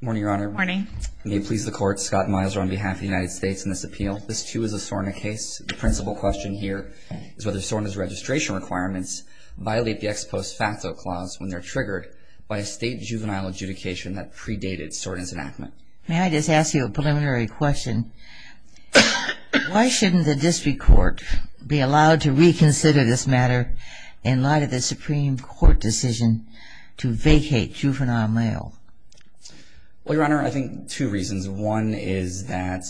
Morning, Your Honor. Morning. May it please the Court, Scott Miser on behalf of the United States in this appeal. This too is a SORNA case. The principal question here is whether SORNA's registration requirements violate the ex post facto clause when they're triggered by a state juvenile adjudication that predated SORNA's enactment. May I just ask you a preliminary question? Why shouldn't the District Court be allowed to reconsider this matter in light of the Supreme Court decision to vacate juvenile mail? Well, Your Honor, I think two reasons. One is that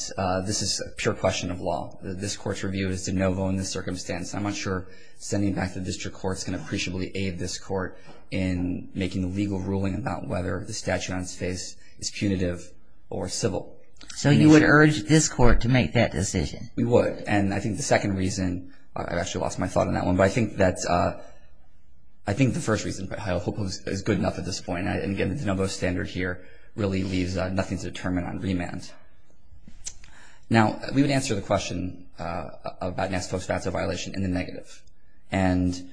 this is a pure question of law. This Court's review is de novo in this circumstance. I'm not sure sending it back to the District Court is going to appreciably aid this Court in making a legal ruling about whether the statute on its face is punitive or civil. So you would urge this Court to make that decision? We would. And I think the second reason, I've actually lost my thought on that one, but I think the first reason is good enough at this point. And again, the de novo standard here really leaves nothing to determine on remand. Now, we would answer the question about an ex post facto violation in the negative. And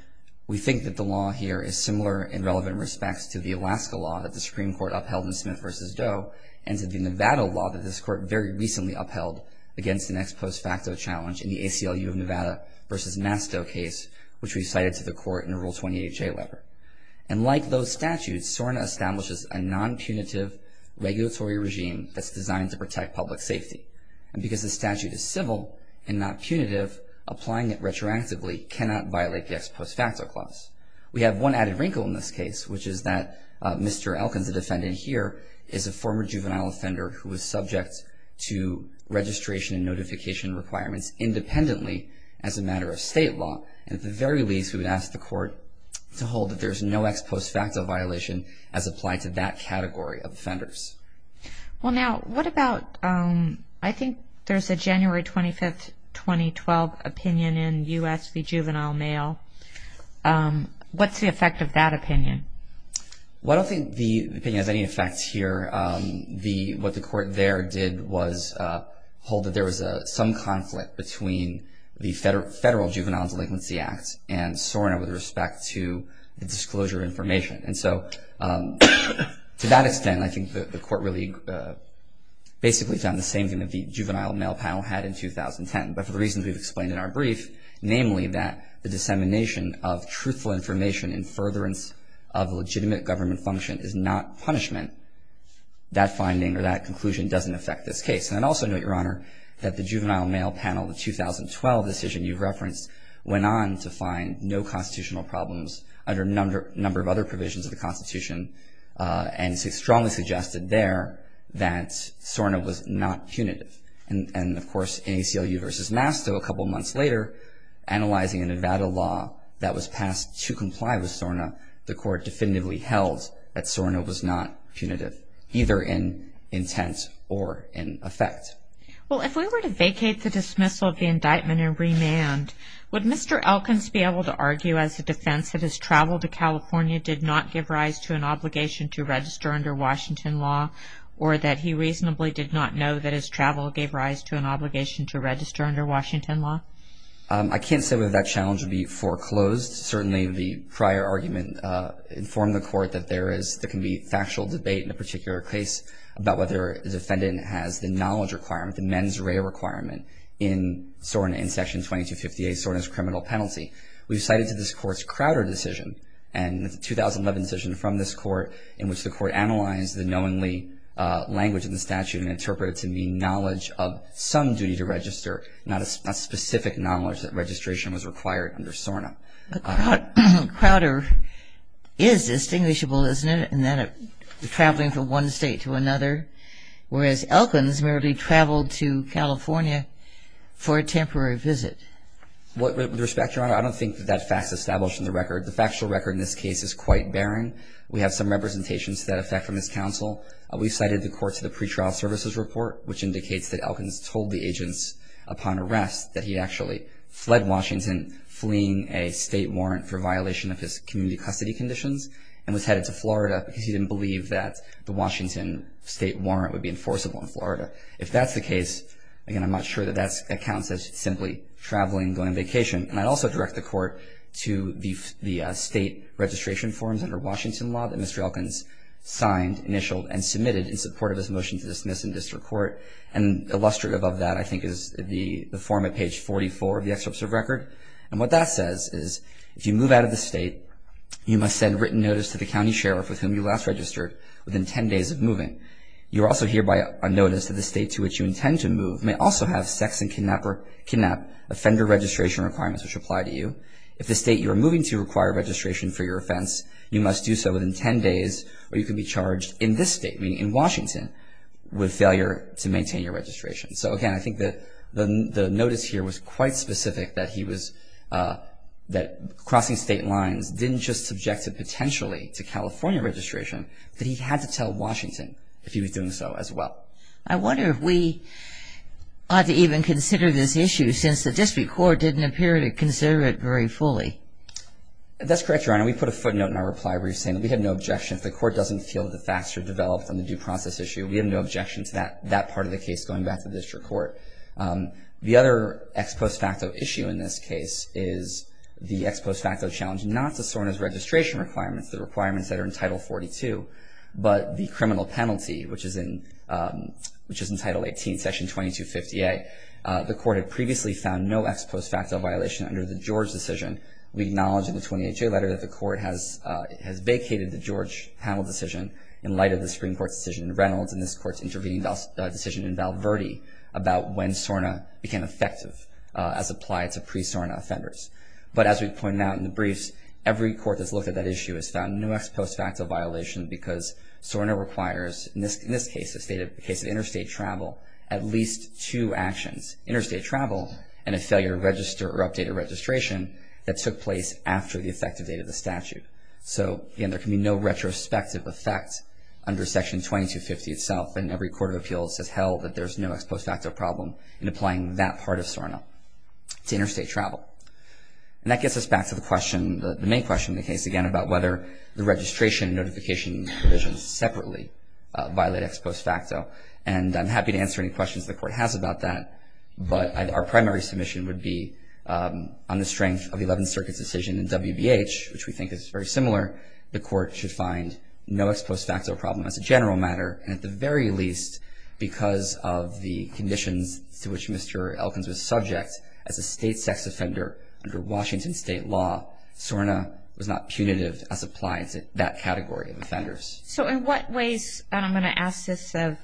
we think that the law here is similar in relevant respects to the Alaska law that the Supreme Court upheld in Smith v. Doe and to the Nevada law that this Court very recently upheld against an ex post facto challenge in the ACLU of Nevada v. Masto case, which we cited to the Court in the Rule 28-J letter. And like those statutes, SORNA establishes a non-punitive regulatory regime that's designed to protect public safety. And because the statute is civil and not punitive, applying it retroactively cannot violate the ex post facto clause. We have one added wrinkle in this case, which is that Mr. Elkins, the defendant here, is a former juvenile offender who was subject to registration and notification requirements independently as a matter of state law. And at the very least, we would ask the Court to hold that there's no ex post facto violation as applied to that category of offenders. Well now, what about, I think there's a January 25, 2012 opinion in U.S. v. Juvenile Mail. What's the effect of that opinion? I don't think the opinion has any effect here. What the Court there did was hold that there was some conflict between the Federal Juvenile Delinquency Act and SORNA with respect to the disclosure of information. And so to that extent, I think the Court really basically found the same thing that the Juvenile Mail panel had in 2010. But for the reasons we've explained in our brief, namely that the dissemination of truthful information and furtherance of legitimate government function is not punishment, that finding or that conclusion doesn't affect this case. And I'd also note, Your Honor, that the Juvenile Mail panel, the 2012 decision you referenced, went on to find no constitutional problems under a number of other provisions of the Constitution and strongly suggested there that SORNA was not punitive. And of course, in ACLU v. Masto a couple months later, analyzing a Nevada law that was passed to comply with SORNA, the Court definitively held that SORNA was not punitive, either in intent or in effect. Well, if we were to vacate the dismissal of the indictment and remand, would Mr. Elkins be able to argue as a defense that his travel to California did not give rise to an obligation to register under Washington law or that he reasonably did not know that his travel gave rise to an obligation to register under Washington law? I can't say whether that challenge would be foreclosed. Certainly the prior argument informed the Court that there can be factual debate in a particular case about whether the defendant has the knowledge requirement, the mens rea requirement, in SORNA in Section 2258, SORNA's criminal penalty. We've cited to this Court's Crowder decision and the 2011 decision from this Court in which the Court analyzed the knowingly language in the statute and interpreted it to mean knowledge of some duty to register, not specific knowledge that registration was required under SORNA. But Crowder is distinguishable, isn't it, in that traveling from one state to another, whereas Elkins merely traveled to California for a temporary visit? With respect, Your Honor, I don't think that that fact is established in the record. The factual record in this case is quite barren. We have some representations to that effect from this counsel. We've cited the court to the pretrial services report, which indicates that Elkins told the agents upon arrest that he actually fled Washington, fleeing a state warrant for violation of his community custody conditions, and was headed to Florida because he didn't believe that the Washington state warrant would be enforceable in Florida. If that's the case, again, I'm not sure that that accounts as simply traveling, going on vacation. And I'd also direct the Court to the state registration forms under Washington law that Mr. Elkins signed, initialed, and submitted in support of this motion to dismiss in district court. And illustrative of that, I think, is the form at page 44 of the excerpt of the record. And what that says is, if you move out of the state, you must send written notice to the county sheriff, with whom you last registered, within 10 days of moving. You are also hereby unnoticed that the state to which you intend to move may also have sex and kidnap offender registration requirements which apply to you. If the state you are moving to require registration for your offense, you must do so within 10 days, or you can be charged in this state, meaning in Washington, with failure to maintain your registration. So, again, I think that the notice here was quite specific, that crossing state lines didn't just subject it potentially to California registration, but he had to tell Washington if he was doing so as well. I wonder if we ought to even consider this issue, since the district court didn't appear to consider it very fully. That's correct, Your Honor. We put a footnote in our reply where you're saying that we have no objection if the court doesn't feel that the facts are developed on the due process issue. We have no objection to that part of the case going back to the district court. The other ex post facto issue in this case is the ex post facto challenge not to SORNA's registration requirements, the requirements that are in Title 42, but the criminal penalty, which is in Title 18, Section 2258. The court had previously found no ex post facto violation under the George decision. We acknowledge in the 20HA letter that the court has vacated the George panel decision in light of the Supreme Court's decision in Reynolds and this court's intervening decision in Val Verde about when SORNA became effective as applied to pre-SORNA offenders. But as we pointed out in the briefs, every court that's looked at that issue has found no ex post facto violation because SORNA requires, in this case, the case of interstate travel, at least two actions, interstate travel and a failure to register or update a registration that took place after the effective date of the statute. So, again, there can be no retrospective effect under Section 2250 itself and every court of appeals has held that there's no ex post facto problem in applying that part of SORNA to interstate travel. And that gets us back to the question, the main question in the case, again, about whether the registration and notification provisions separately violate ex post facto. And I'm happy to answer any questions the court has about that, but our primary submission would be on the strength of the Eleventh Circuit's decision in WBH, which we think is very similar, the court should find no ex post facto problem as a general matter and at the very least because of the conditions to which Mr. Elkins was subject as a state sex offender under Washington state law, SORNA was not punitive as applied to that category of offenders. So, in what ways, and I'm going to ask this of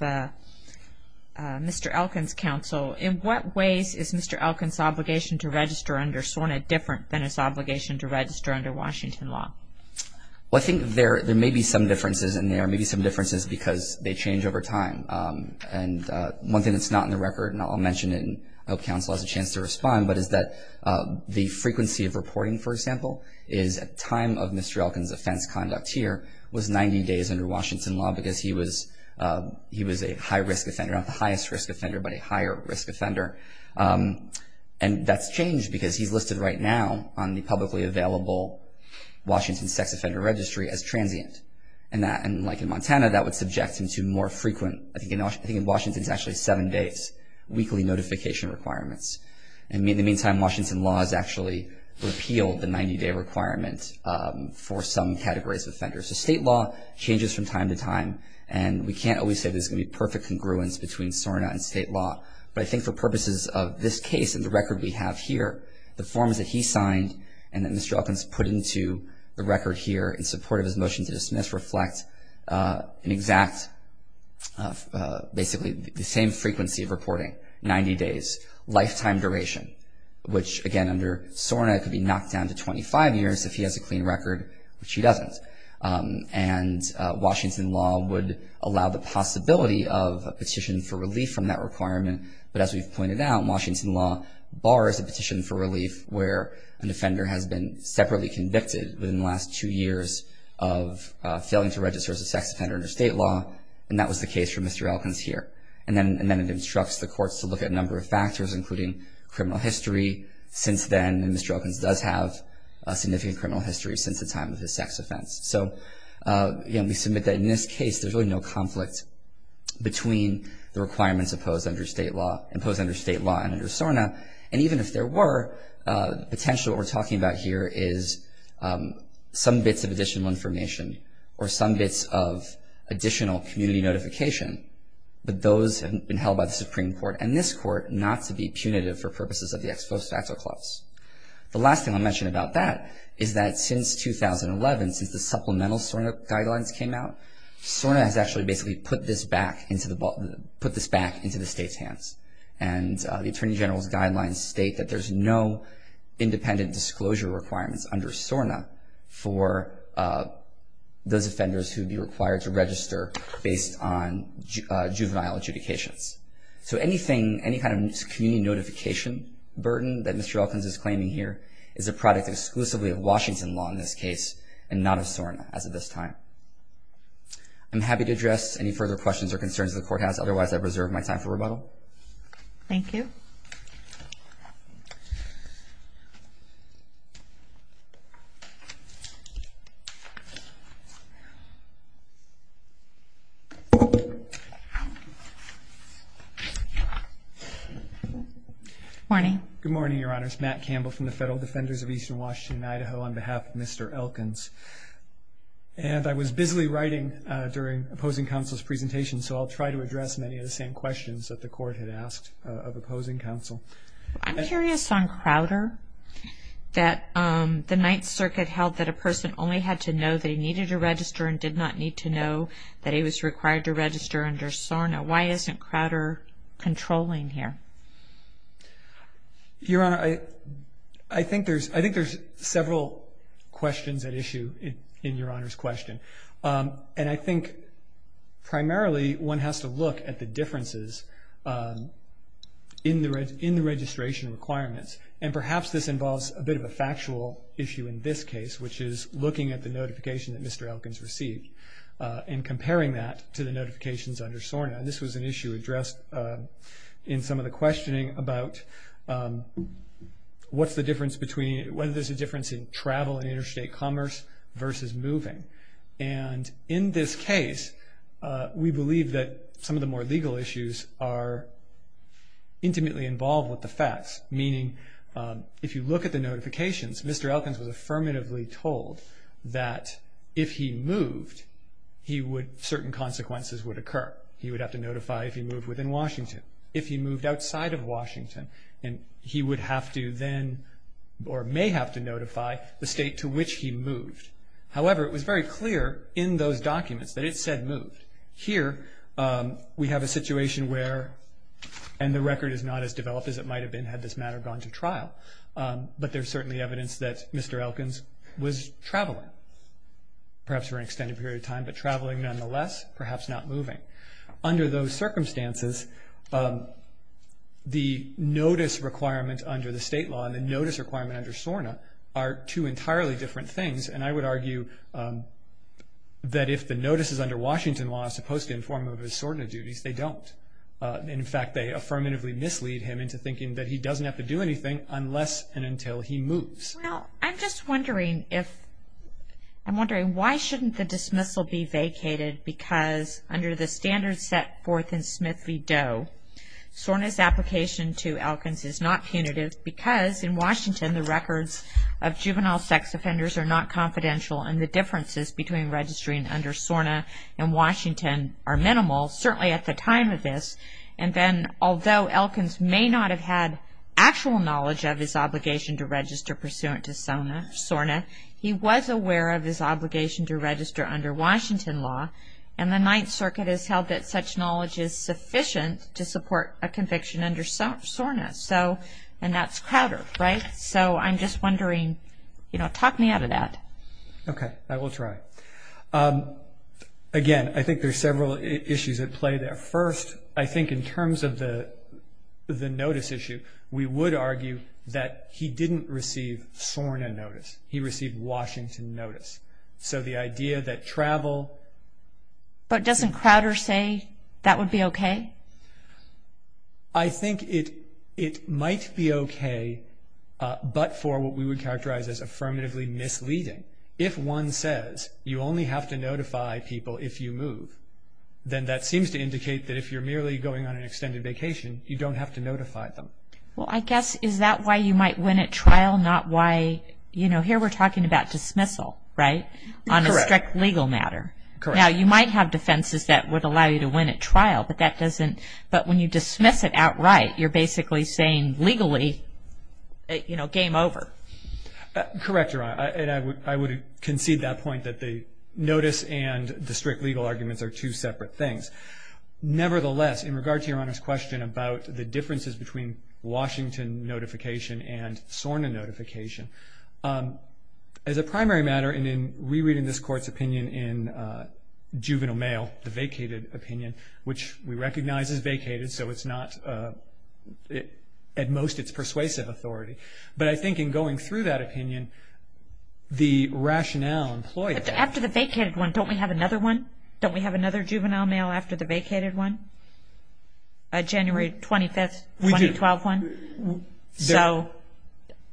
Mr. Elkins' counsel, in what ways is Mr. Elkins' obligation to register under SORNA different than his obligation to register under Washington law? Well, I think there may be some differences in there, maybe some differences because they change over time. And one thing that's not in the record, and I'll mention it and I hope counsel has a chance to respond, but is that the frequency of reporting, for example, is a time of Mr. Elkins' offense conduct here was 90 days under Washington law because he was a high risk offender, not the highest risk offender, but a higher risk offender. And that's changed because he's listed right now on the publicly available Washington sex offender registry as transient. And like in Montana, that would subject him to more frequent, I think in Washington it's actually seven days, weekly notification requirements. And in the meantime, Washington law has actually repealed the 90-day requirement for some categories of offenders. So state law changes from time to time, and we can't always say there's going to be perfect congruence between SORNA and state law. But I think for purposes of this case and the record we have here, the forms that he signed and that Mr. Elkins put into the record here in support of his motion to dismiss reflect an exact, basically the same frequency of reporting, 90 days, lifetime duration, which again under SORNA could be knocked down to 25 years if he has a clean record, which he doesn't. And Washington law would allow the possibility of a petition for relief from that requirement, but as we've pointed out, Washington law bars a petition for relief where an offender has been separately convicted within the last two years of failing to register as a sex offender under state law, and that was the case for Mr. Elkins here. And then it instructs the courts to look at a number of factors, including criminal history since then, and Mr. Elkins does have a significant criminal history since the time of his sex offense. So we submit that in this case there's really no conflict between the requirements imposed under state law and imposed under state law and under SORNA. And even if there were, potentially what we're talking about here is some bits of additional information or some bits of additional community notification, but those have been held by the Supreme Court and this court not to be punitive for purposes of the ex post facto clause. The last thing I'll mention about that is that since 2011, since the supplemental SORNA guidelines came out, SORNA has actually basically put this back into the state's hands. And the Attorney General's guidelines state that there's no independent disclosure requirements under SORNA for those offenders who would be required to register based on juvenile adjudications. So anything, any kind of community notification burden that Mr. Elkins is claiming here is a product exclusively of Washington law in this case and not of SORNA as of this time. I'm happy to address any further questions or concerns the Court has. Otherwise, I reserve my time for rebuttal. Thank you. Good morning. Good morning, Your Honors. Matt Campbell from the Federal Defenders of Eastern Washington and Idaho on behalf of Mr. Elkins. And I was busily writing during Opposing Counsel's presentation, so I'll try to address many of the same questions that the Court had asked of Opposing Counsel. I'm curious on Crowder, that the Ninth Circuit held that a person only had to know that he needed to register and did not need to know that he was required to register under SORNA. Why isn't Crowder controlling here? Your Honor, I think there's several questions at issue in Your Honor's question. And I think primarily one has to look at the differences in the registration requirements. And perhaps this involves a bit of a factual issue in this case, which is looking at the notification that Mr. Elkins received and comparing that to the notifications under SORNA. This was an issue addressed in some of the questioning about what's the difference between, whether there's a difference in travel and interstate commerce versus moving. And in this case, we believe that some of the more legal issues are intimately involved with the facts, meaning if you look at the notifications, Mr. Elkins was affirmatively told that if he moved, he would, certain consequences would occur. He would have to notify if he moved within Washington. If he moved outside of Washington, he would have to then or may have to notify the state to which he moved. However, it was very clear in those documents that it said moved. Here, we have a situation where, and the record is not as developed as it might have been had this matter gone to trial, but there's certainly evidence that Mr. Elkins was traveling, perhaps for an extended period of time, but traveling nonetheless, perhaps not moving. Under those circumstances, the notice requirements under the state law and the notice requirement under SORNA are two entirely different things, and I would argue that if the notices under Washington law are supposed to inform him of his SORNA duties, they don't. In fact, they affirmatively mislead him into thinking that he doesn't have to do anything unless and until he moves. Well, I'm just wondering if, I'm wondering why shouldn't the dismissal be vacated because under the standards set forth in Smith v. Doe, SORNA's application to Elkins is not punitive because in Washington, the records of juvenile sex offenders are not confidential and the differences between registering under SORNA and Washington are minimal, certainly at the time of this, and then although Elkins may not have had actual knowledge of his obligation to register pursuant to SORNA, he was aware of his obligation to register under Washington law, and the Ninth Circuit has held that such knowledge is sufficient to support a conviction under SORNA, and that's Crowder, right? So I'm just wondering, you know, talk me out of that. Okay, I will try. Again, I think there are several issues at play there. First, I think in terms of the notice issue, we would argue that he didn't receive SORNA notice. He received Washington notice. So the idea that travel... But doesn't Crowder say that would be okay? I think it might be okay, but for what we would characterize as affirmatively misleading. If one says you only have to notify people if you move, then that seems to indicate that if you're merely going on an extended vacation, you don't have to notify them. Well, I guess is that why you might win at trial, not why... You know, here we're talking about dismissal, right? Correct. On a strict legal matter. Correct. Now, you might have defenses that would allow you to win at trial, but that doesn't... But when you dismiss it outright, you're basically saying legally, you know, game over. Correct, Your Honor, and I would concede that point that the notice and the strict legal arguments are two separate things. Nevertheless, in regard to Your Honor's question about the differences between Washington notification and SORNA notification, as a primary matter, and in rereading this Court's opinion in juvenile mail, the vacated opinion, which we recognize is vacated, so it's not at most its persuasive authority, but I think in going through that opinion, the rationale employed... After the vacated one, don't we have another one? Don't we have another juvenile mail after the vacated one? A January 25, 2012 one? We do. So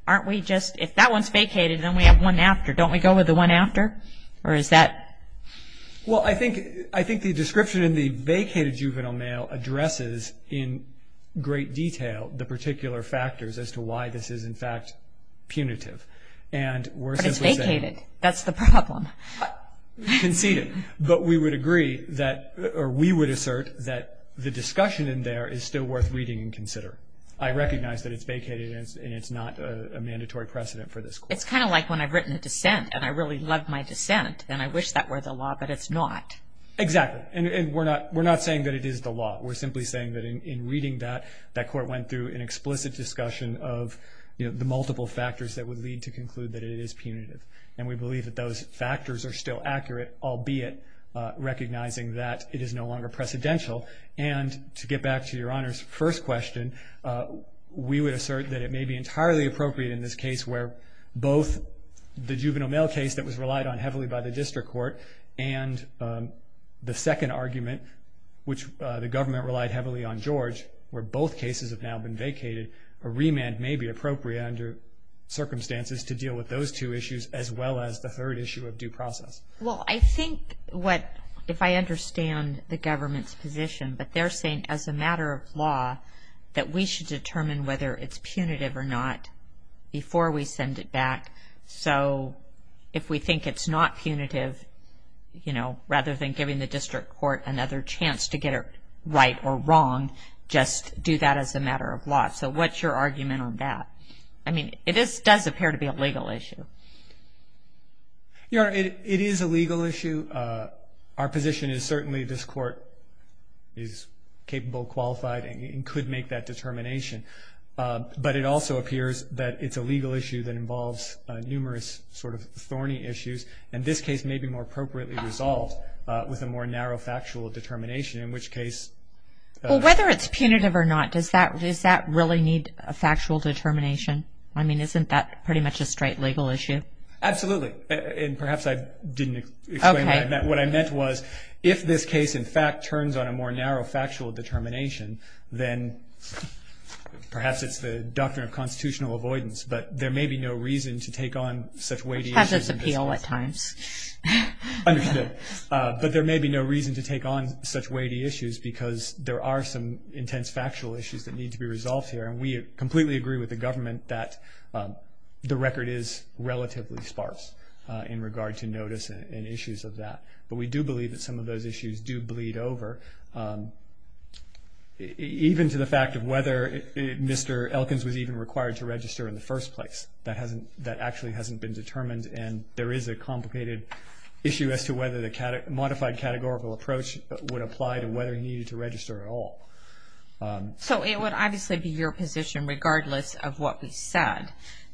aren't we just... If that one's vacated, then we have one after. Don't we go with the one after, or is that... Well, I think the description in the vacated juvenile mail addresses in great detail the particular factors as to why this is, in fact, punitive, and we're simply saying... But it's vacated. That's the problem. Conceded. But we would agree that... Or we would assert that the discussion in there is still worth reading and considering. I recognize that it's vacated, and it's not a mandatory precedent for this Court. It's kind of like when I've written a dissent, and I really love my dissent, and I wish that were the law, but it's not. Exactly. And we're not saying that it is the law. We're simply saying that in reading that, that Court went through an explicit discussion of the multiple factors that would lead to conclude that it is punitive, and we believe that those factors are still accurate, albeit recognizing that it is no longer precedential. And to get back to Your Honor's first question, we would assert that it may be entirely appropriate in this case where both the juvenile mail case that was relied on heavily by the District Court and the second argument, which the government relied heavily on George, where both cases have now been vacated, a remand may be appropriate under circumstances to deal with those two issues as well as the third issue of due process. Well, I think what, if I understand the government's position, but they're saying as a matter of law that we should determine whether it's punitive or not before we send it back. So if we think it's not punitive, you know, rather than giving the District Court another chance to get it right or wrong, just do that as a matter of law. So what's your argument on that? I mean, it does appear to be a legal issue. Your Honor, it is a legal issue. Our position is certainly this Court is capable, qualified, and could make that determination. But it also appears that it's a legal issue that involves numerous sort of thorny issues, and this case may be more appropriately resolved with a more narrow factual determination, in which case... Well, whether it's punitive or not, does that really need a factual determination? I mean, isn't that pretty much a straight legal issue? Absolutely. And perhaps I didn't explain what I meant. What I meant was if this case in fact turns on a more narrow factual determination, then perhaps it's the doctrine of constitutional avoidance, but there may be no reason to take on such weighty issues. Which has its appeal at times. Understood. But there may be no reason to take on such weighty issues because there are some intense factual issues that need to be resolved here, and we completely agree with the government that the record is relatively sparse in regard to notice and issues of that. But we do believe that some of those issues do bleed over, even to the fact of whether Mr. Elkins was even required to register in the first place. That actually hasn't been determined, and there is a complicated issue as to whether the modified categorical approach would apply to whether he needed to register at all. So it would obviously be your position, regardless of what we said,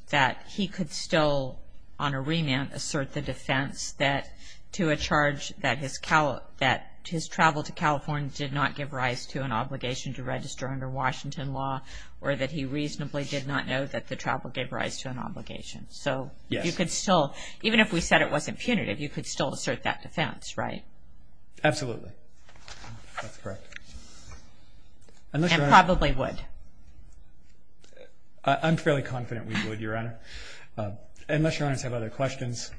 that he could still, on a remand, assert the defense that to a charge that his travel to California did not give rise to an obligation to register under Washington law, or that he reasonably did not know that the travel gave rise to an obligation. So you could still, even if we said it wasn't punitive, you could still assert that defense, right? Absolutely. That's correct. And probably would. I'm fairly confident we would, Your Honor. Unless Your Honors have other questions,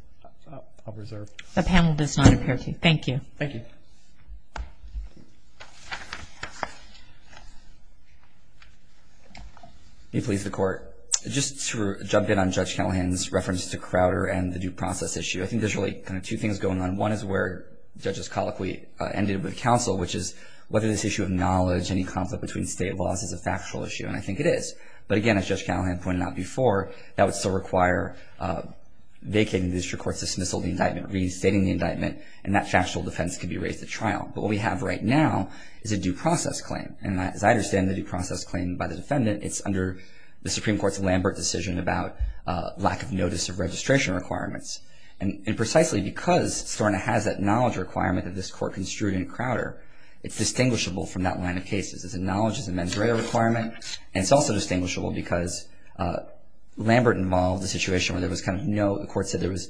I'll reserve. The panel does not appear to. Thank you. Thank you. May it please the Court. Just to jump in on Judge Callahan's reference to Crowder and the due process issue, I think there's really kind of two things going on. One is where Judges Colloquy ended with counsel, which is whether this issue of knowledge, any conflict between state laws, is a factual issue. And I think it is. But again, as Judge Callahan pointed out before, that would still require vacating the district court's dismissal of the indictment, reinstating the indictment, and that factual defense could be raised at trial. But what we have right now is a due process claim. And as I understand the due process claim by the defendant, it's under the Supreme Court's Lambert decision about lack of notice of registration requirements. And precisely because Storna has that knowledge requirement that this Court construed in Crowder, it's distinguishable from that line of cases. It's a knowledge, it's a mens rea requirement, and it's also distinguishable because Lambert involved a situation where there was kind of no, the Court said there was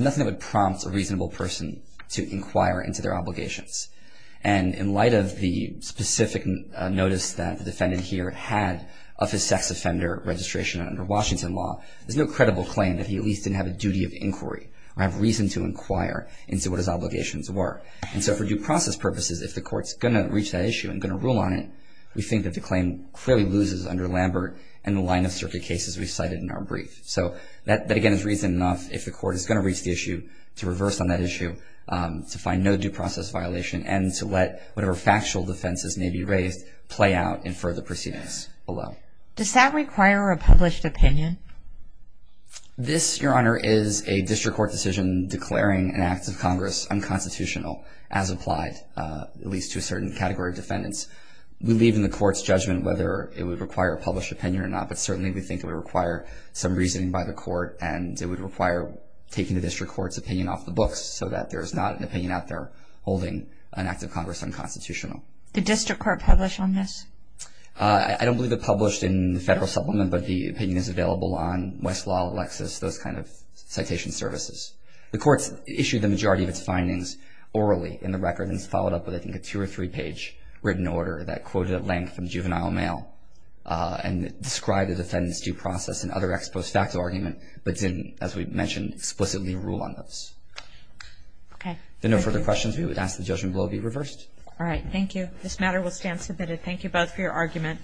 nothing that would prompt a reasonable person to inquire into their obligations. And in light of the specific notice that the defendant here had of his sex offender registration under Washington law, there's no credible claim that he at least didn't have a duty of inquiry or have reason to inquire into what his obligations were. And so for due process purposes, if the Court's going to reach that issue and going to rule on it, we think that the claim clearly loses under Lambert and the line of circuit cases we cited in our brief. So that, again, is reason enough if the Court is going to reach the issue to reverse on that issue to find no due process violation and to let whatever factual defenses may be raised play out in further proceedings below. Does that require a published opinion? This, Your Honor, is a district court decision declaring an act of Congress unconstitutional as applied, at least to a certain category of defendants. We leave in the Court's judgment whether it would require a published opinion or not, but certainly we think it would require some reasoning by the Court and it would require taking the district court's opinion off the books so that there's not an opinion out there holding an act of Congress unconstitutional. Did district court publish on this? I don't believe it published in the federal supplement, but the opinion is available on Westlaw, Alexis, those kind of citation services. The Court's issued the majority of its findings orally in the record and has followed up with, I think, a two- or three-page written order that quoted at length from juvenile mail and described the defendant's due process and other ex post facto argument, but didn't, as we mentioned, explicitly rule on those. Okay. If there are no further questions, we would ask the judgment below be reversed. All right. Thank you. This matter will stand submitted. Thank you both for your argument.